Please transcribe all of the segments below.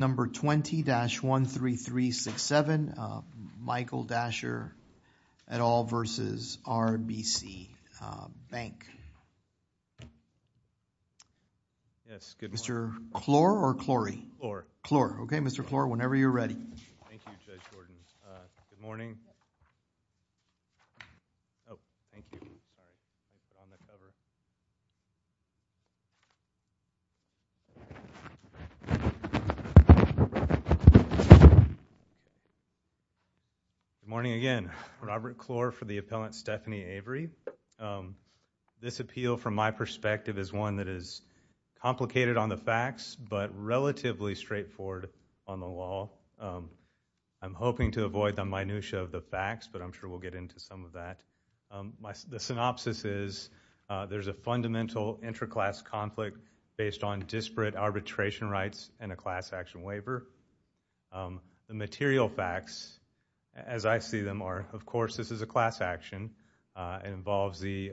Number 20-13367 Michael Dasher et al. v. RBC Bank Mr. Klor, whenever you're ready. Morning again. I'm Robert Klor for the appellant Stephanie Avery. This appeal, from my perspective, is one that is complicated on the facts but relatively straightforward on the law. I'm hoping to avoid the minutiae of the facts, but I'm sure we'll get into some of that. The synopsis is there's a fundamental inter-class conflict based on disparate arbitration rights and a class action waiver. The material facts, as I see them, are, of course, this is a class action, it involves the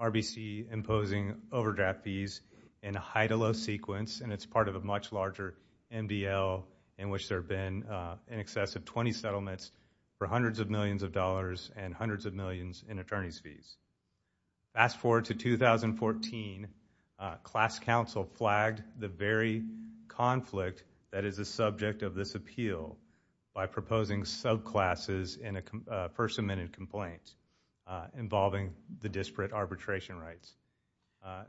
RBC imposing overdraft fees in a high-to-low sequence, and it's part of a much larger MDL in which there have been in excess of 20 settlements for hundreds of millions of dollars and hundreds of millions in attorney's fees. Fast forward to 2014, class counsel flagged the very conflict that is the subject of this appeal by proposing subclasses in a first-amended complaint involving the disparate arbitration rights.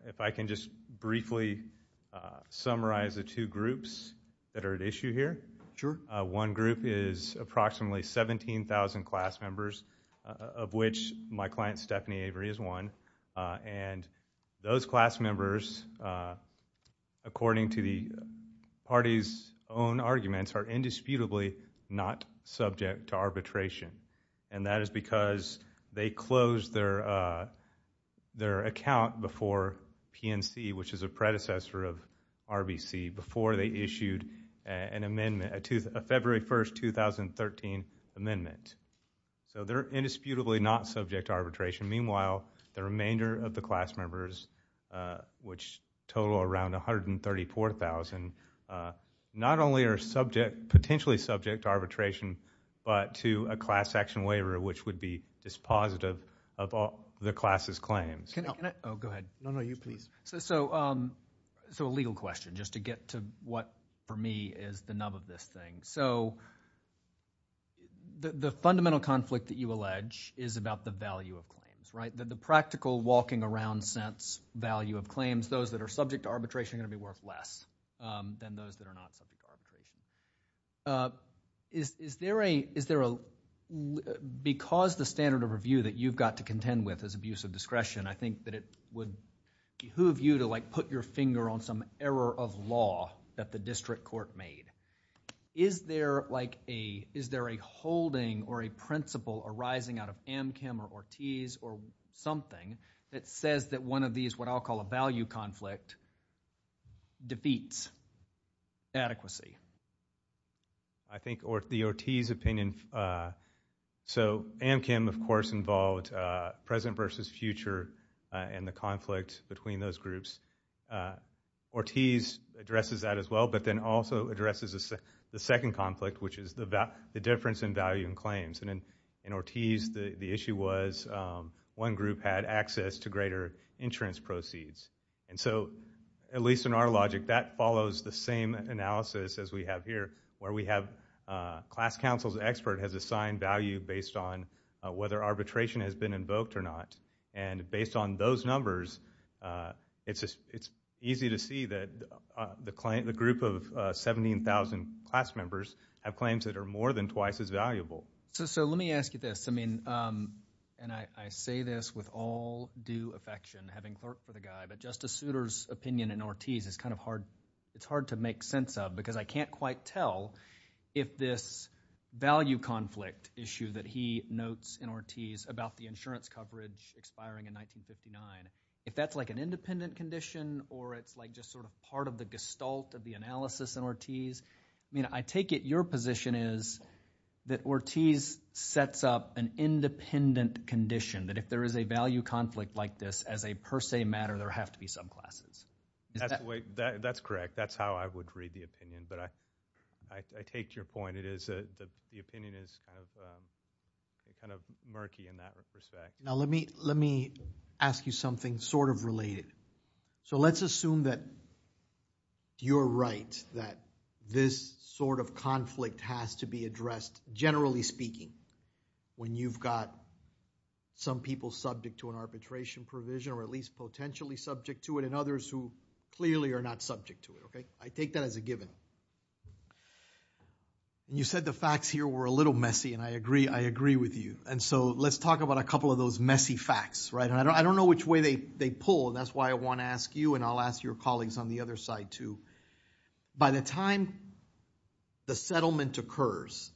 If I can just briefly summarize the two groups that are at issue here. One group is approximately 17,000 class members, of which my client Stephanie Avery is one, and those class members, according to the party's own arguments, are indisputably not subject to arbitration, and that is because they closed their account before PNC, which is a February 1, 2013, amendment. So they're indisputably not subject to arbitration. Meanwhile, the remainder of the class members, which total around 134,000, not only are potentially subject to arbitration, but to a class action waiver, which would be dispositive of the class's claims. No, no, you, please. So a legal question, just to get to what, for me, is the nub of this thing. So the fundamental conflict that you allege is about the value of claims, right? The practical walking-around sense value of claims, those that are subject to arbitration are going to be worth less than those that are not subject to arbitration. Because the standard of review that you've got to contend with is abuse of discretion, and I think that it would behoove you to, like, put your finger on some error of law that the district court made. Is there, like, a, is there a holding or a principle arising out of Amchem or Ortiz or something that says that one of these, what I'll call a value conflict, defeats adequacy? I think the Ortiz opinion, so Amchem, of course, involved present versus future in the conflict between those groups. Ortiz addresses that as well, but then also addresses the second conflict, which is the difference in value and claims. And in Ortiz, the issue was one group had access to greater insurance proceeds. And so, at least in our logic, that follows the same analysis as we have here, where we have class counsel's expert has assigned value based on whether arbitration has been invoked or not. And based on those numbers, it's easy to see that the group of 17,000 class members have claims that are more than twice as valuable. So let me ask you this. I mean, and I say this with all due affection, having clerked for the guy, but Justice Souter's opinion in Ortiz is kind of hard, it's hard to make sense of, because I can't quite tell if this value conflict issue that he notes in Ortiz about the insurance coverage expiring in 1959, if that's, like, an independent condition or it's, like, just sort of part of the gestalt of the analysis in Ortiz. I mean, I take it your position is that Ortiz sets up an independent condition, that if there is a value conflict like this, as a per se matter, there have to be subclasses. That's correct. That's how I would read the opinion. But I take your point, it is, the opinion is kind of murky in that respect. Now let me ask you something sort of related. So let's assume that you're right, that this sort of conflict has to be addressed, generally speaking, when you've got some people subject to an arbitration provision, or at least potentially subject to it, and others who clearly are not subject to it, okay? I take that as a given. You said the facts here were a little messy, and I agree, I agree with you. And so let's talk about a couple of those messy facts, right? And I don't know which way they pull, and that's why I want to ask you, and I'll ask your colleagues on the other side, too. By the time the settlement occurs,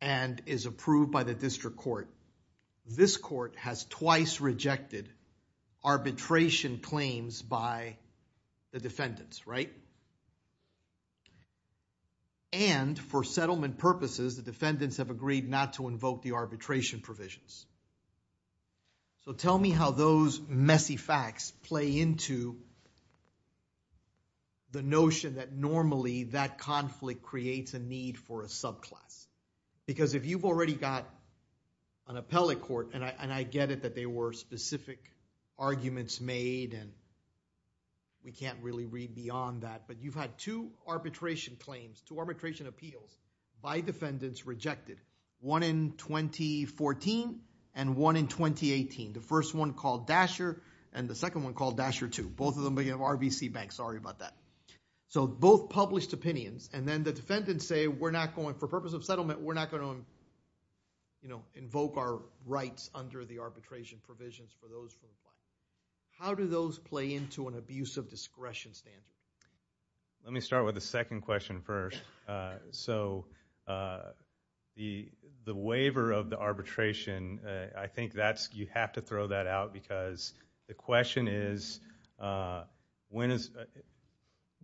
and is approved by the district court, this court has twice rejected arbitration claims by the defendants, right? And for settlement purposes, the defendants have agreed not to invoke the arbitration provisions. So tell me how those messy facts play into the notion that normally that conflict creates a need for a subclass. Because if you've already got an appellate court, and I get it that they were specific arguments made, and we can't really read beyond that, but you've had two arbitration claims, two arbitration appeals, by defendants rejected. One in 2014, and one in 2018. The first one called Dasher, and the second one called Dasher II. Both of them began with RBC Bank, sorry about that. So both published opinions, and then the defendants say, we're not going, for purpose of settlement, we're not going to invoke our rights under the arbitration provisions for those claims. How do those play into an abuse of discretion standard? Let me start with the second question first. So the waiver of the arbitration, I think that's, you have to throw that out, because the question is, when is,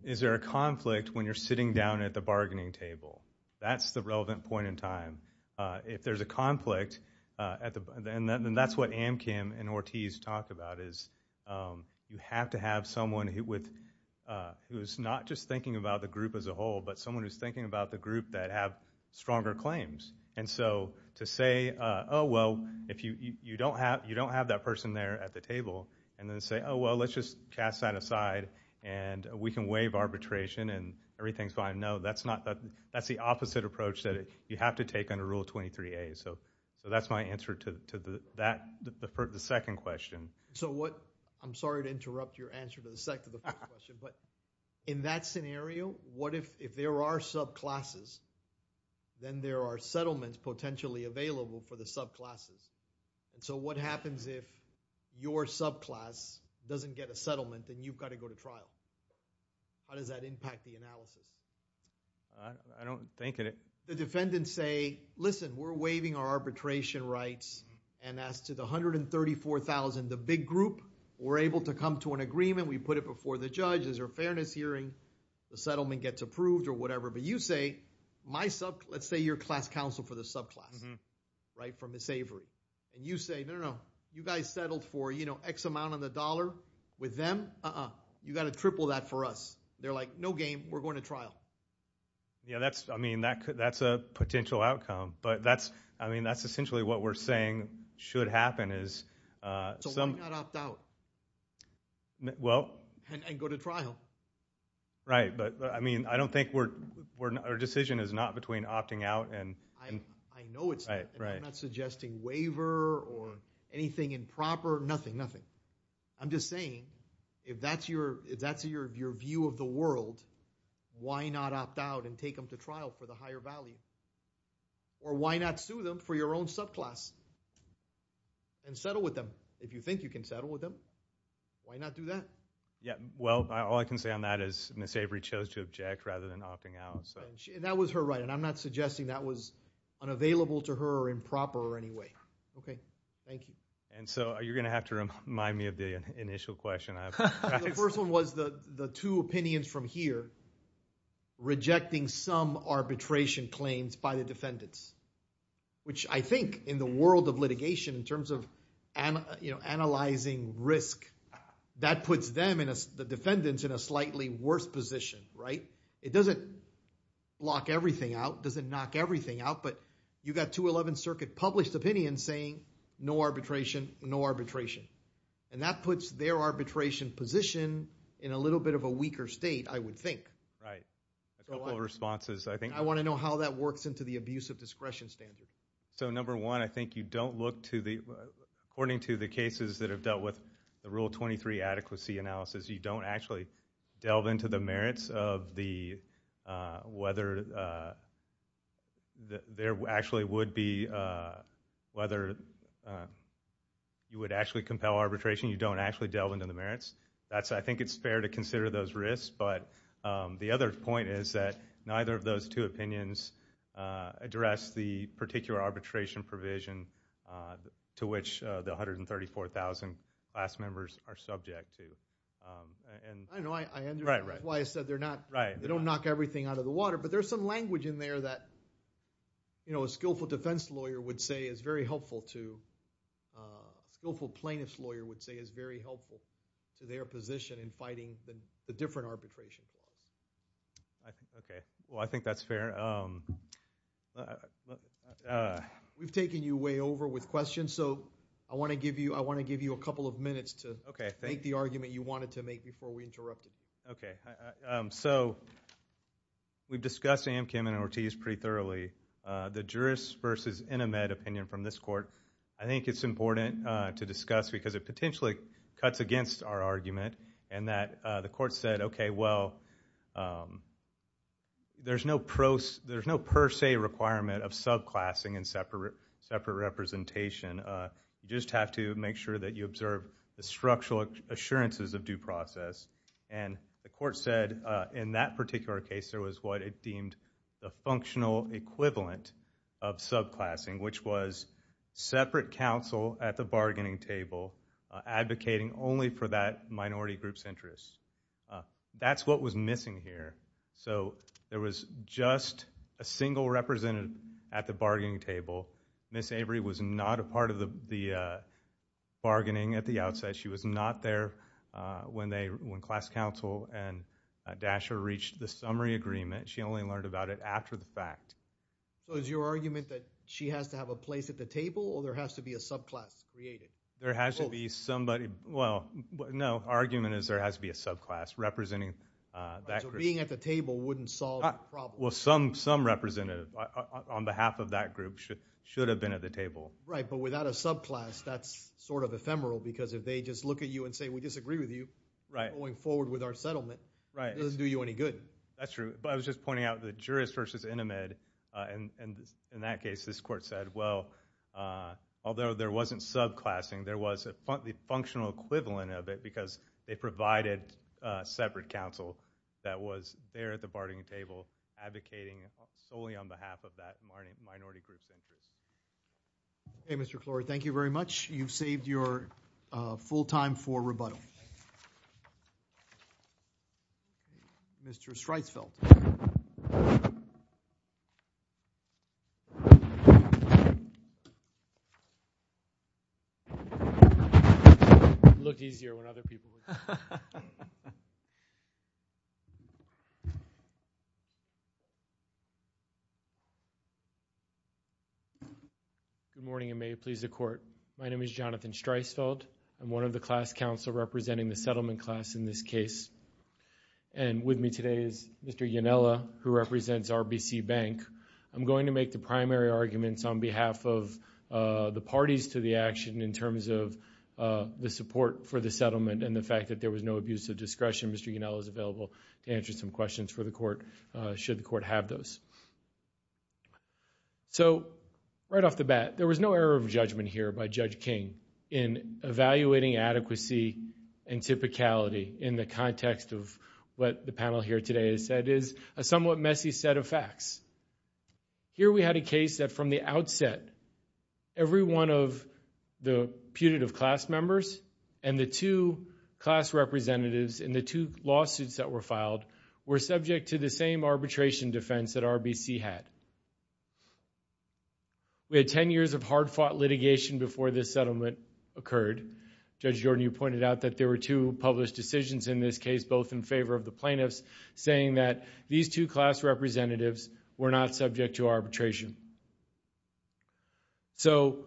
is there a conflict when you're sitting down at the bargaining table? That's the relevant point in time. If there's a conflict, and that's what Amkim and Ortiz talk about, is you have to have someone who would, who's not just thinking about the group as a whole, but someone who's thinking about the group that have stronger claims. And so to say, oh, well, if you don't have, you don't have that person there at the table, and then say, oh, well, let's just cast that aside, and we can waive arbitration, and everything's fine. No, that's not, that's the opposite approach that you have to take under Rule 23A. So that's my answer to that, the second question. So what, I'm sorry to interrupt your answer to the second question, but in that scenario, what if, if there are subclasses, then there are settlements potentially available for the subclasses. So what happens if your subclass doesn't get a settlement, then you've got to go to trial? How does that impact the analysis? I don't think... The defendants say, listen, we're waiving our arbitration rights, and as to the 134,000, the big group, we're able to come to an agreement, we put it before the judge, there's a fairness hearing, the settlement gets approved, or whatever. But you say, my sub, let's say you're class counsel for the subclass, right, from Ms. Avery. And you say, no, no, no, you guys settled for, you know, X amount on the dollar with them, uh-uh, you've got to triple that for us. They're like, no game, we're going to trial. Yeah, that's, I mean, that's a potential outcome. But that's, I mean, that's essentially what we're saying should happen, is... So why not opt out? Well... And go to trial. Right, but, I mean, I don't think we're... our decision is not between opting out and... I know it's not. Right, right. I'm not suggesting waiver or anything improper, nothing, nothing. I'm just saying, if that's your view of the world, why not opt out and take them to trial for the higher value? Or why not sue them for your own subclass and settle with them? If you think you can settle with them, why not do that? Yeah, well, all I can say on that is Ms. Avery chose to object rather than opting out, so... That was her right, and I'm not suggesting that was unavailable to her or improper in any way. Okay, thank you. And so, you're going to have to remind me of the initial question I have for you guys. The first one was the two opinions from here, rejecting some arbitration claims by the defendants, which I think, in the world of litigation, in terms of analyzing risk, that puts them, the defendants, in a slightly worse position, right? It doesn't lock everything out, doesn't knock everything out, but you've got two Eleventh Circuit published opinions saying no arbitration, no arbitration. And that puts their arbitration position in a little bit of a weaker state, I would think. Right. A couple of responses, I think... I want to know how that works into the abuse of discretion standard. So, number one, I think you don't look to the... According to the cases that have dealt with the Rule 23 adequacy analysis, you don't actually delve into the merits of the... whether there actually would be... you would actually compel arbitration, you don't actually delve into the merits. I think it's fair to consider those risks, but the other point is that neither of those two opinions address the particular arbitration provision to which the 134,000 class members are subject to. I know, I understand... Right, right. That's why I said they're not... Right. They don't knock everything out of the water, but there's some language in there that a skillful defense lawyer would say is very helpful to... a skillful plaintiff's lawyer would say is very helpful to their position in fighting the different arbitrations. Okay. Well, I think that's fair. We've taken you way over with questions, so I want to give you a couple of minutes to make the argument you wanted to make before we interrupted. Okay. So, we've discussed Amkin and Ortiz pretty thoroughly. The jurist versus intimate opinion from this court, I think it's important to discuss because it potentially cuts against our argument and that the court said, okay, well, there's no per se requirement of subclassing and separate representation. You just have to make sure that you observe the structural assurances of due process. And the court said in that particular case, there was what it deemed the functional equivalent of subclassing, which was separate counsel at the bargaining table advocating only for that minority group's interests. That's what was missing here. So, there was just a single representative at the bargaining table. Ms. Avery was not a part of the bargaining at the outset. She was not there when class counsel and Dasher reached the summary agreement. She only learned about it after the fact. So, is your argument that she has to have a place at the table or there has to be a subclass created? There has to be somebody. Well, no, argument is there has to be a subclass representing that group. So, being at the table wouldn't solve the problem? Well, some representative on behalf of that group should have been at the table. Right, but without a subclass, that's sort of ephemeral because if they just look at you and say, we disagree with you, going forward with our settlement, it doesn't do you any good. That's true. But I was just pointing out the jurist versus intimate. And in that case, this court said, well, although there wasn't subclassing, there was the functional equivalent of it because they provided separate counsel that was there at the bargaining table advocating solely on behalf of that minority group's interests. Okay, Mr. Clorey, thank you very much. You've saved your full time for rebuttal. Mr. Streisfeld. Good morning and may it please the court. My name is Jonathan Streisfeld. I'm one of the class counsel representing the settlement class in this case. And with me today is Mr. Yonella, who represents RBC Bank. I'm going to make the primary arguments on behalf of the parties to the action in terms of the support for the settlement and the fact that there was no abuse of discretion. Mr. Yonella is available to answer some questions for the court should the court have those. So right off the bat, there was no error of judgment here by Judge King in evaluating adequacy and typicality in the context of what the panel here today has said is a somewhat messy set of facts. Here we had a case that from the outset, every one of the putative class members and the two class representatives and the two lawsuits that were filed were subject to the same arbitration defense that RBC had. We had ten years of hard-fought litigation before this settlement occurred. Judge Jordan, you pointed out that there were two published decisions in this case, both in favor of the plaintiffs, saying that these two class representatives were not subject to arbitration. So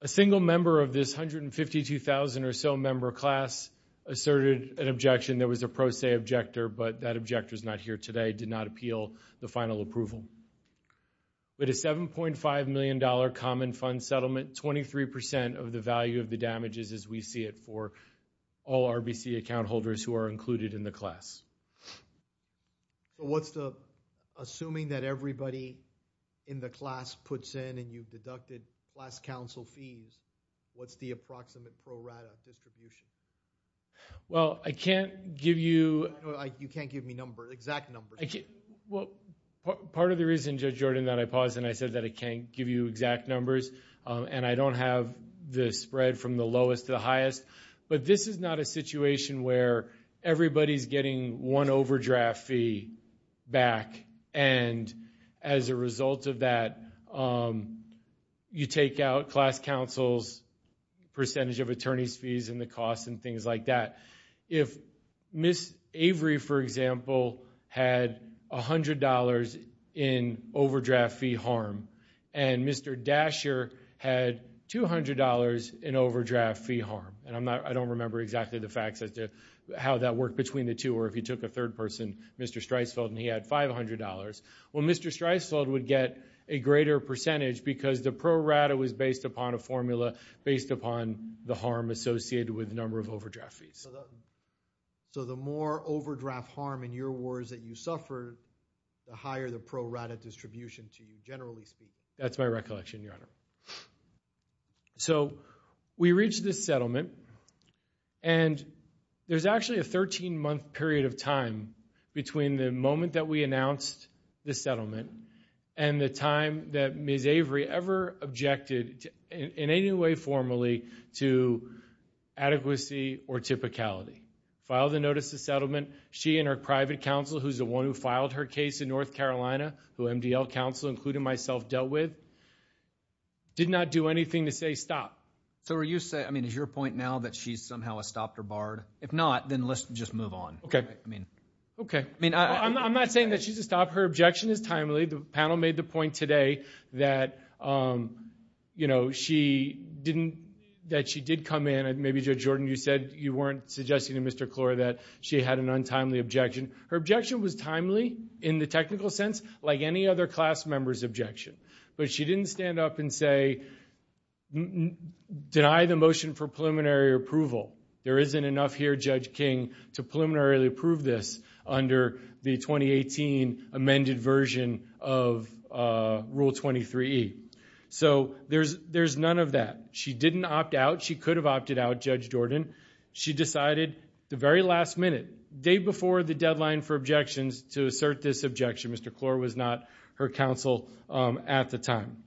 a single member of this 152,000 or so member class asserted an objection. There was a pro se objector, but that objector is not here today. I did not appeal the final approval. With a $7.5 million common fund settlement, 23% of the value of the damage is as we see it for all RBC account holders who are included in the class. Assuming that everybody in the class puts in and you've deducted class counsel fees, what's the approximate pro rata distribution? Well, I can't give you- You can't give me numbers, exact numbers. Well, part of the reason, Judge Jordan, that I paused and I said that I can't give you exact numbers and I don't have the spread from the lowest to the highest, but this is not a situation where everybody's getting one overdraft fee back and as a result of that, you take out class counsel's percentage of attorney's fees and the cost and things like that. If Ms. Avery, for example, had $100 in overdraft fee harm and Mr. Dasher had $200 in overdraft fee harm, and I don't remember exactly the facts as to how that worked between the two or if you took a third person, Mr. Streisfeld, and he had $500. Well, Mr. Streisfeld would get a greater percentage because the pro rata was based upon a formula based upon the harm associated with number of overdraft fees. So the more overdraft harm in your wars that you suffered, the higher the pro rata distribution to you, generally speaking? That's my recollection, Your Honor. So we reached this settlement and there's actually a 13-month period of time between the moment that we announced the settlement and the time that Ms. Avery ever objected in any way formally to adequacy or typicality. Filed a notice of settlement. She and her private counsel, who's the one who filed her case in North Carolina, who MDL counsel, including myself, dealt with, did not do anything to say stop. So is your point now that she somehow has stopped or barred? If not, then let's just move on. Okay. I'm not saying that she's a stop. Her objection is timely. The panel made the point today that she did come in. Maybe, Judge Jordan, you said you weren't suggesting to Mr. Klor that she had an untimely objection. Her objection was timely in the technical sense, like any other class member's objection. But she didn't stand up and say, deny the motion for preliminary approval. There isn't enough here, Judge King, to preliminarily approve this under the 2018 amended version of Rule 23E. So there's none of that. She didn't opt out. She could have opted out, Judge Jordan. She decided at the very last minute, day before the deadline for objections, to assert this objection. Mr. Klor was not her counsel at the time.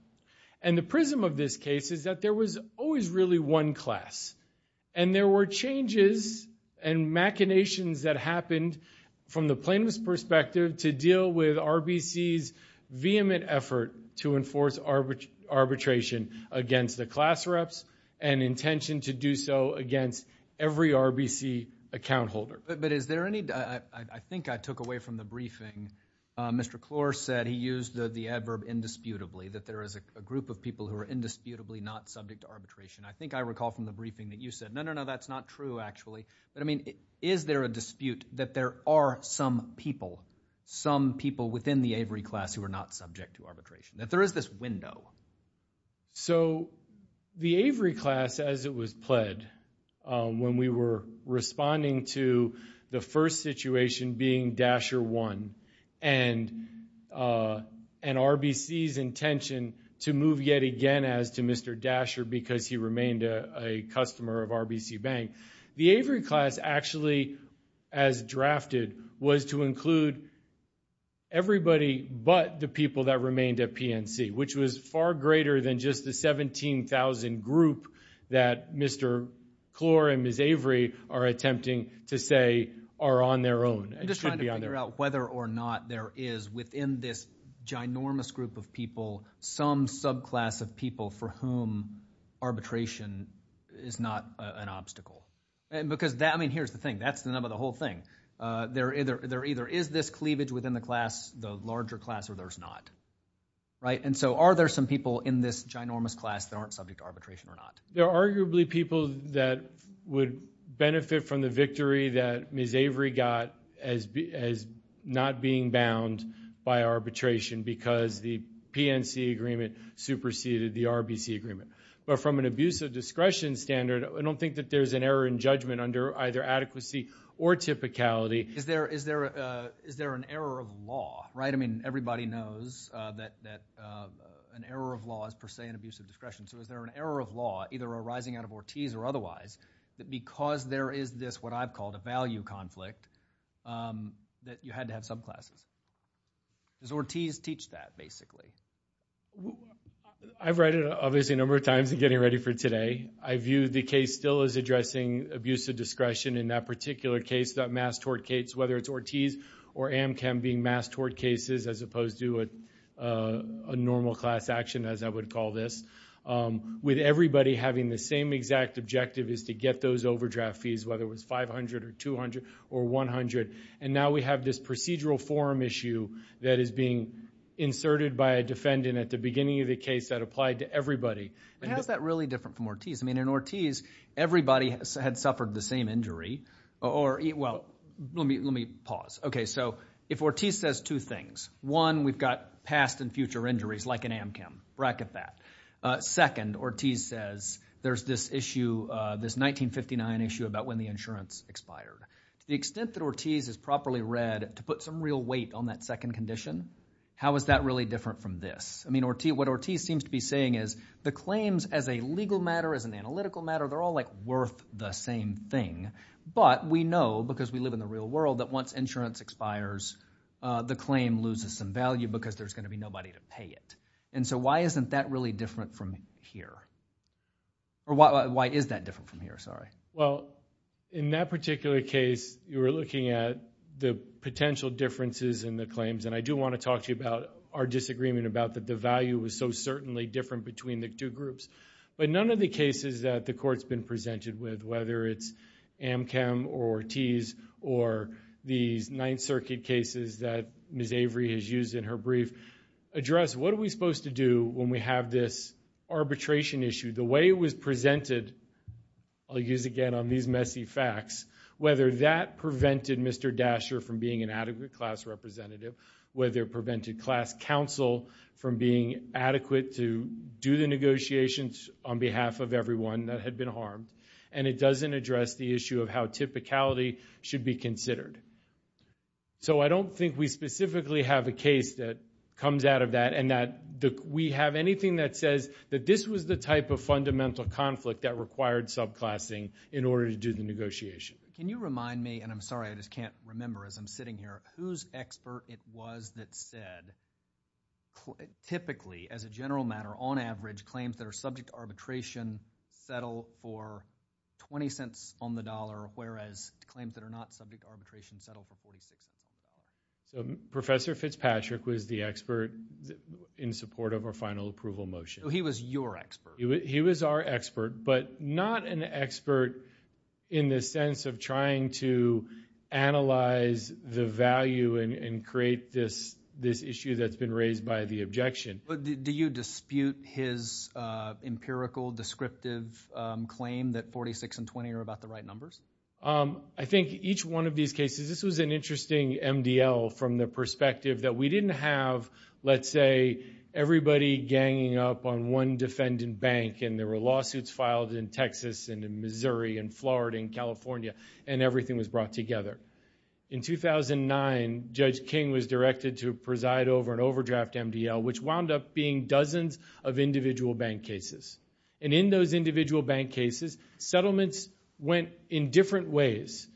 And the prism of this case is that there was always really one class. And there were changes and machinations that happened from the plaintiff's perspective to deal with RBC's vehement effort to enforce arbitration against the class reps and intention to do so against every RBC account holder. But is there any – I think I took away from the briefing. Mr. Klor said he used the adverb indisputably, that there is a group of people who are indisputably not subject to arbitration. I think I recall from the briefing that you said, no, no, no, that's not true, actually. But, I mean, is there a dispute that there are some people, some people within the Avery class who are not subject to arbitration, that there is this window? So the Avery class, as it was pled, when we were responding to the first situation being Dasher 1 and RBC's intention to move yet again as to Mr. Dasher because he remained a customer of RBC Bank, the Avery class actually, as drafted, was to include everybody but the people that remained at PNC, which was far greater than just the 17,000 group that Mr. Klor and Ms. Avery are attempting to say are on their own and should be on their own. I'm just trying to figure out whether or not there is within this ginormous group of people some subclass of people for whom arbitration is not an obstacle. Because, I mean, here's the thing. That's the nub of the whole thing. There either is this cleavage within the class, the larger class, or there's not. And so are there some people in this ginormous class that aren't subject to arbitration or not? There are arguably people that would benefit from the victory that Ms. Avery got as not being bound by arbitration because the PNC agreement superseded the RBC agreement. But from an abuse of discretion standard, I don't think that there's an error in judgment under either adequacy or typicality. Is there an error of law, right? I mean, everybody knows that an error of law is per se an abuse of discretion. So is there an error of law either arising out of Ortiz or otherwise that because there is this what I've called a value conflict that you had to have subclasses? Does Ortiz teach that, basically? I've read it obviously a number of times in getting ready for today. I view the case still as addressing abuse of discretion. In that particular case, that mass tort case, whether it's Ortiz or Amchem being mass tort cases as opposed to a normal class action, as I would call this, with everybody having the same exact objective is to get those overdraft fees, whether it was $500 or $200 or $100. And now we have this procedural forum issue that is being inserted by a defendant at the beginning of the case that applied to everybody. How is that really different from Ortiz? I mean, in Ortiz, everybody had suffered the same injury. Well, let me pause. Okay, so if Ortiz says two things. One, we've got past and future injuries like in Amchem. Bracket that. Second, Ortiz says there's this issue, this 1959 issue about when the insurance expired. The extent that Ortiz has properly read to put some real weight on that second condition, how is that really different from this? I mean, what Ortiz seems to be saying is the claims as a legal matter, as an analytical matter, they're all, like, worth the same thing. But we know because we live in the real world that once insurance expires, the claim loses some value because there's going to be nobody to pay it. And so why isn't that really different from here? Or why is that different from here? Well, in that particular case, you were looking at the potential differences in the claims, and I do want to talk to you about our disagreement about that the value was so certainly different between the two groups. But none of the cases that the Court's been presented with, whether it's Amchem or Ortiz or these Ninth Circuit cases that Ms. Avery has used in her brief, address what are we supposed to do when we have this arbitration issue. The way it was presented, I'll use again on these messy facts, whether that prevented Mr. Dasher from being an adequate class representative, whether it prevented class counsel from being adequate to do the negotiations on behalf of everyone that had been harmed, and it doesn't address the issue of how typicality should be considered. So I don't think we specifically have a case that comes out of that and that we have anything that says that this was the type of fundamental conflict that required subclassing in order to do the negotiation. Can you remind me, and I'm sorry I just can't remember as I'm sitting here, whose expert it was that said typically, as a general matter, on average, claims that are subject to arbitration settle for $0.20 on the dollar, whereas claims that are not subject to arbitration settle for $0.46. Professor Fitzpatrick was the expert in support of our final approval motion. He was your expert. He was our expert, but not an expert in the sense of trying to analyze the value and create this issue that's been raised by the objection. Do you dispute his empirical, descriptive claim that $0.46 and $0.20 are about the right numbers? I think each one of these cases, this was an interesting MDL from the perspective that we didn't have, let's say, everybody ganging up on one defendant bank and there were lawsuits filed in Texas and in Missouri and Florida and California and everything was brought together. In 2009, Judge King was directed to preside over an overdraft MDL, which wound up being dozens of individual bank cases. In those individual bank cases, settlements went in different ways.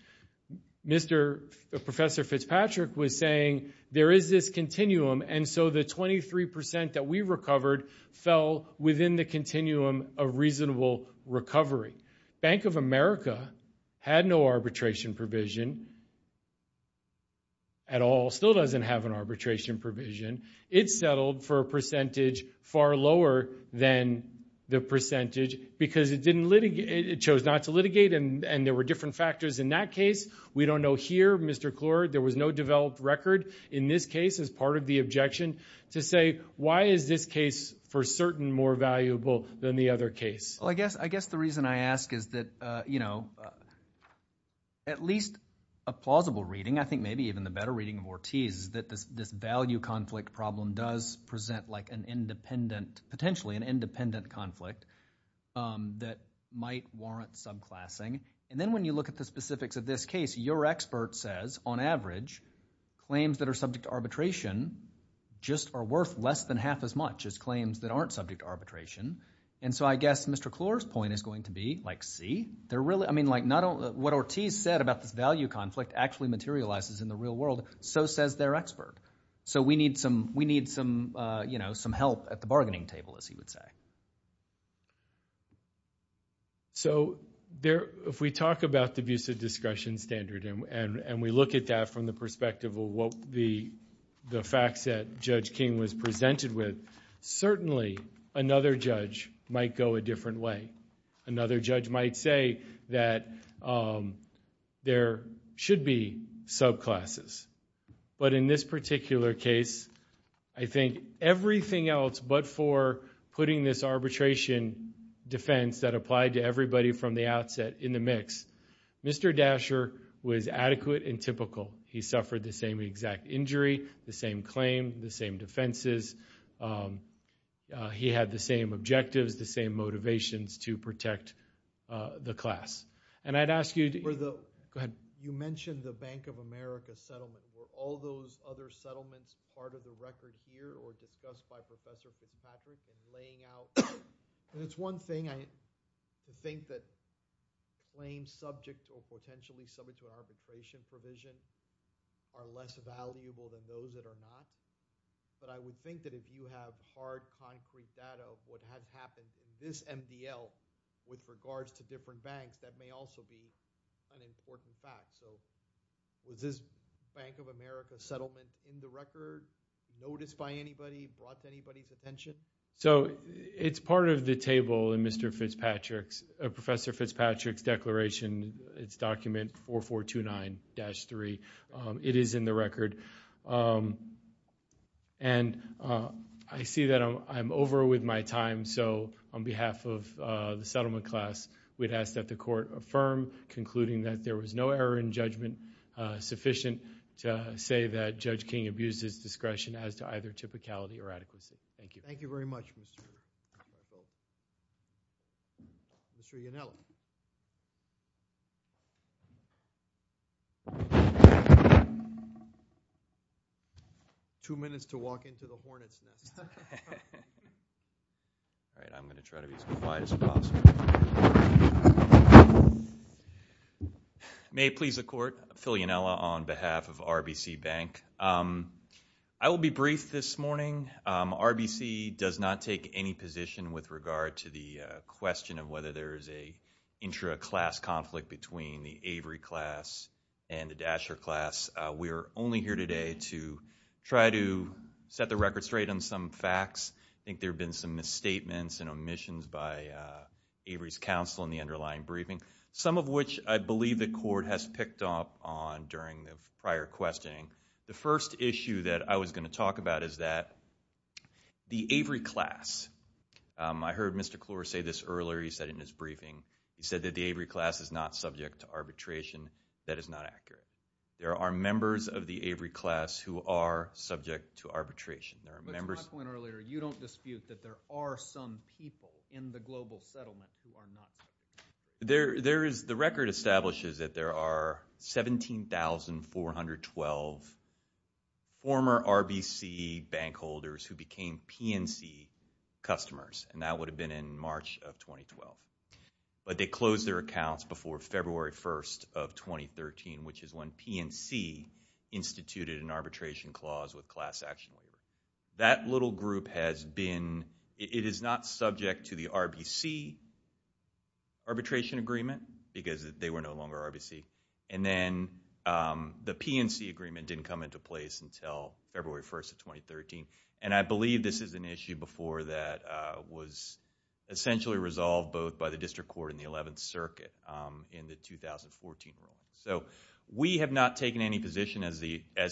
Professor Fitzpatrick was saying there is this continuum, and so the 23% that we recovered fell within the continuum of reasonable recovery. Bank of America had no arbitration provision at all, still doesn't have an arbitration provision. It settled for a percentage far lower than the percentage because it chose not to litigate and there were different factors in that case. We don't know here, Mr. Klor, there was no developed record in this case as part of the objection to say, why is this case for certain more valuable than the other case? Well, I guess the reason I ask is that at least a plausible reading, I think maybe even the better reading of Ortiz is that this value conflict problem does present like an independent, potentially an independent conflict that might warrant subclassing. And then when you look at the specifics of this case, your expert says on average claims that are subject to arbitration just are worth less than half as much as claims that aren't subject to arbitration. And so I guess Mr. Klor's point is going to be like, see, what Ortiz said about this value conflict actually materializes in the real world, so says their expert. So we need some help at the bargaining table, as he would say. So if we talk about the abusive discretion standard and we look at that from the perspective of what the facts that Judge King was presented with, certainly another judge might go a different way. Another judge might say that there should be subclasses. But in this particular case, I think everything else but for putting this arbitration defense that applied to everybody from the outset in the mix, Mr. Dasher was adequate and typical. He suffered the same exact injury, the same claim, the same defenses. He had the same objectives, the same motivations to protect the class. And I'd ask you to go ahead. You mentioned the Bank of America settlement. Were all those other settlements part of the record here or discussed by Professor Fitzpatrick in laying out? And it's one thing, I think, that claims subject or potentially subject to arbitration provision are less valuable than those that are not. But I would think that if you have hard, concrete data of what had happened in this MDL with regards to different banks, that may also be an important fact. So is this Bank of America settlement in the record, noticed by anybody, brought to anybody's attention? So it's part of the table in Mr. Fitzpatrick's, Professor Fitzpatrick's declaration. It's document 4429-3. It is in the record. And I see that I'm over with my time. So on behalf of the settlement class, we'd ask that the court affirm, concluding that there was no error in judgment sufficient to say that Judge King abused his discretion as to either typicality or adequacy. Thank you. Thank you very much, Mr. Yonella. Two minutes to walk into the hornet's nest. I'm going to try to be as quiet as possible. May it please the court, Phil Yonella on behalf of RBC Bank. I will be brief this morning. RBC does not take any position with regard to the question of whether there is an intra-class conflict between the Avery class and the Dasher class. We are only here today to try to set the record straight on some facts. I think there have been some misstatements and omissions by Avery's counsel in the underlying briefing, some of which I believe the court has picked up on during the prior questioning. The first issue that I was going to talk about is that the Avery class, I heard Mr. Klor say this earlier, he said in his briefing, he said that the Avery class is not subject to arbitration. That is not accurate. There are members of the Avery class who are subject to arbitration. But to my point earlier, you don't dispute that there are some people in the global settlement who are not? The record establishes that there are 17,412 former RBC bank holders who became PNC customers, and that would have been in March of 2012. But they closed their accounts before February 1st of 2013, which is when PNC instituted an arbitration clause with class action. That little group has been... It is not subject to the RBC arbitration agreement because they were no longer RBC. And then the PNC agreement didn't come into place until February 1st of 2013. And I believe this is an issue before that was essentially resolved both by the district court and the 11th Circuit in the 2014 rule. So we have not taken any position as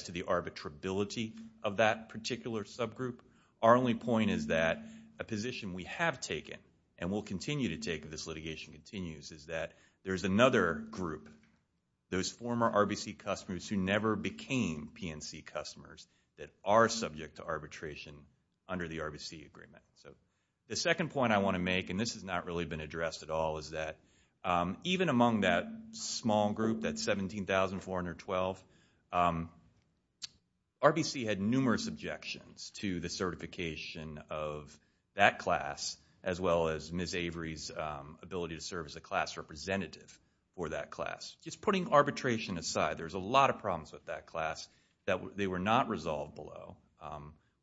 to the arbitrability of that particular subgroup. Our only point is that a position we have taken and will continue to take if this litigation continues is that there is another group, those former RBC customers who never became PNC customers that are subject to arbitration under the RBC agreement. So the second point I want to make, and this has not really been addressed at all, is that even among that small group, that 17,412, RBC had numerous objections to the certification of that class as well as Ms. Avery's ability to serve as a class representative for that class. Just putting arbitration aside, there's a lot of problems with that class that they were not resolved below.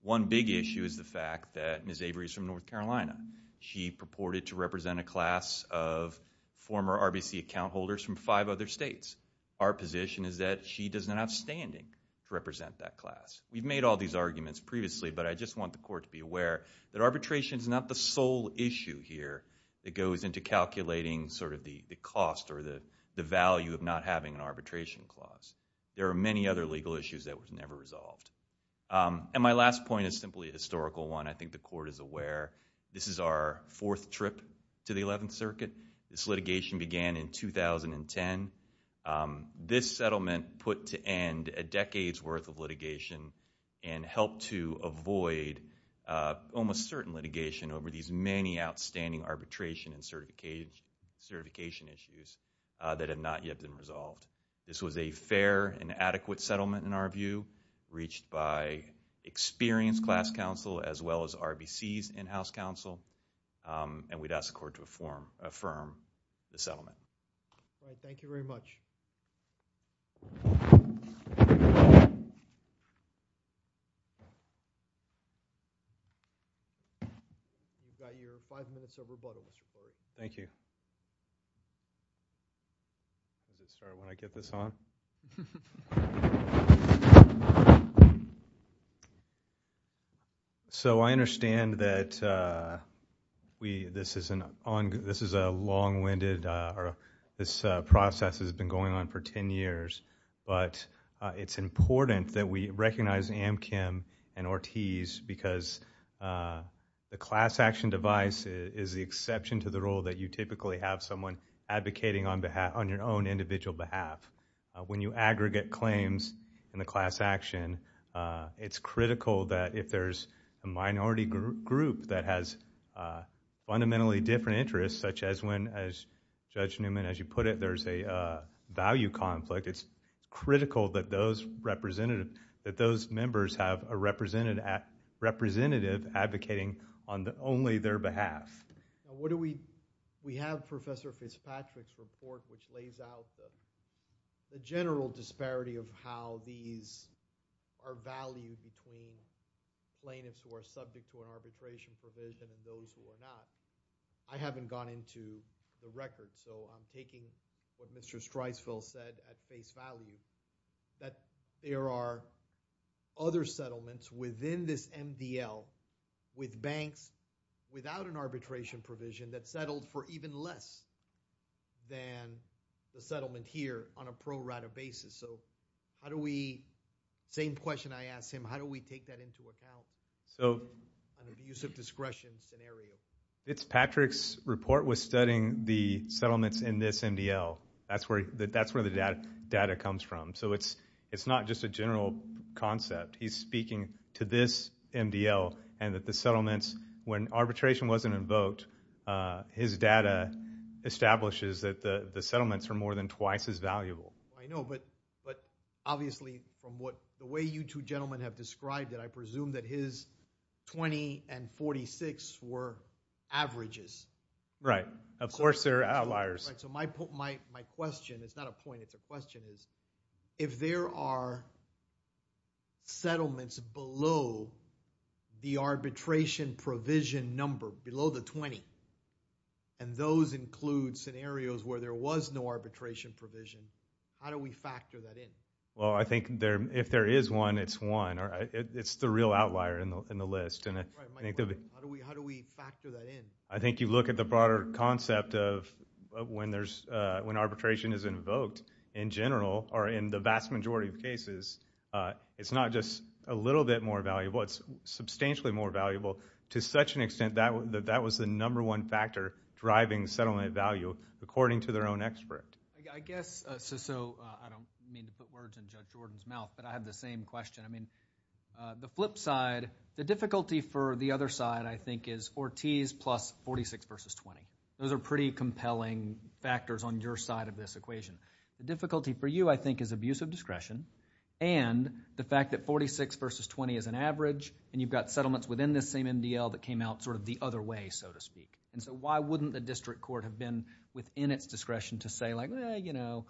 One big issue is the fact that Ms. Avery is from North Carolina. She purported to represent a class of former RBC account holders from five other states. Our position is that she does not have standing to represent that class. We've made all these arguments previously, but I just want the court to be aware that arbitration is not the sole issue here that goes into calculating sort of the cost or the value of not having an arbitration clause. There are many other legal issues that were never resolved. And my last point is simply a historical one. I think the court is aware this is our fourth trip to the Eleventh Circuit. This litigation began in 2010. This settlement put to end a decade's worth of litigation and helped to avoid almost certain litigation over these many outstanding arbitration and certification issues that have not yet been resolved. This was a fair and adequate settlement, in our view, reached by experienced class counsel as well as RBC's in-house counsel. And we'd ask the court to affirm the settlement. All right. Thank you very much. You've got your five minutes of rebuttal, Mr. Perry. Thank you. I'll just start when I get this on. So I understand that this is a long-winded or this process has been going on for ten years, but it's important that we recognize Amchem and Ortiz because the class action device is the exception to the rule that you typically have someone advocating on your own individual behalf. When you aggregate claims in the class action, it's critical that if there's a minority group that has fundamentally different interests, such as when, as Judge Newman, as you put it, there's a value conflict, it's critical that those members have a representative advocating on only their behalf. We have Professor Fitzpatrick's report, which lays out the general disparity of how these are valued between plaintiffs who are subject to an arbitration provision and those who are not. I haven't gone into the record, so I'm taking what Mr. Streisfeld said at face value, that there are other settlements within this MDL with banks without an arbitration provision that settled for even less than the settlement here on a pro rata basis. So how do we, same question I asked him, how do we take that into account in a use of discretion scenario? Fitzpatrick's report was studying the settlements in this MDL. That's where the data comes from. So it's not just a general concept. He's speaking to this MDL and that the settlements, when arbitration wasn't invoked, his data establishes that the settlements are more than twice as valuable. I know, but obviously from the way you two gentlemen have described it, I presume that his 20 and 46 were averages. Right, of course they're outliers. So my question, it's not a point, it's a question, is if there are settlements below the arbitration provision number, below the 20, and those include scenarios where there was no arbitration provision, how do we factor that in? Well, I think if there is one, it's one. It's the real outlier in the list. How do we factor that in? I think you look at the broader concept of when arbitration is invoked in general, or in the vast majority of cases, it's not just a little bit more valuable, it's substantially more valuable to such an extent that that was the number one factor driving settlement value according to their own expert. I guess, so I don't mean to put words in Judge Jordan's mouth, but I have the same question. The flip side, the difficulty for the other side, I think, is 40s plus 46 versus 20. Those are pretty compelling factors on your side of this equation. The difficulty for you, I think, is abusive discretion, and the fact that 46 versus 20 is an average, and you've got settlements within this same MDL that came out sort of the other way, so to speak. So why wouldn't the district court have been within its discretion to say like, well, you know,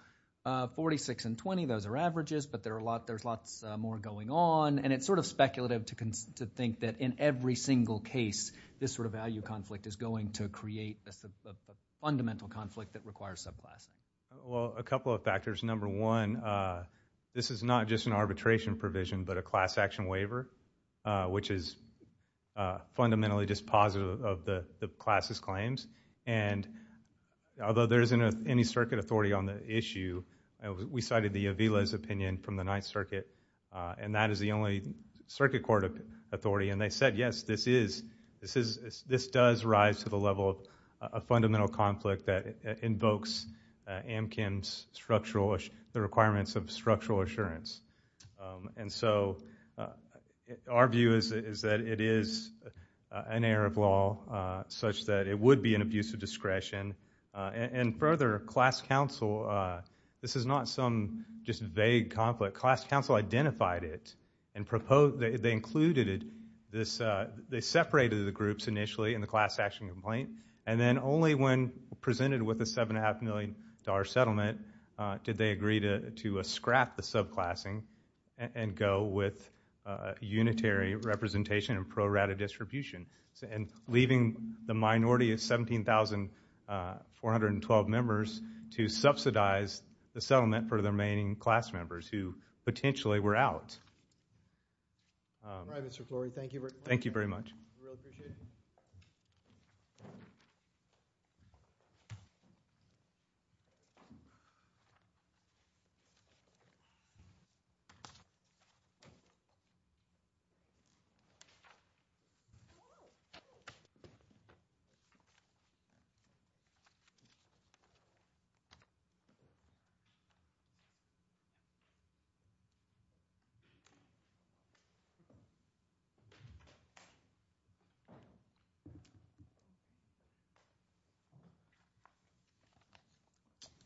46 and 20, those are averages, but there's lots more going on, and it's sort of speculative to think that in every single case, this sort of value conflict is going to create a fundamental conflict that requires subclass. Well, a couple of factors. Number one, this is not just an arbitration provision, but a class action waiver, which is fundamentally dispositive of the class's claims, and although there isn't any circuit authority on the issue, we cited the Avila's opinion from the Ninth Circuit, and that is the only circuit court authority, and they said, yes, this is, this does rise to the level of a fundamental conflict that invokes AMKIM's structural, the requirements of structural assurance. And so our view is that it is an error of law, such that it would be an abusive discretion, and further, class counsel, this is not some just vague conflict. But class counsel identified it and proposed, they included it, this, they separated the groups initially in the class action complaint, and then only when presented with a $7.5 million settlement did they agree to scrap the subclassing and go with unitary representation and pro-rata distribution, and leaving the minority of 17,412 members to subsidize the settlement for the remaining class members who potentially were out. All right, Mr. Flory, thank you very much. Thank you very much. We really appreciate it.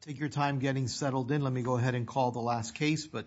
Thank you.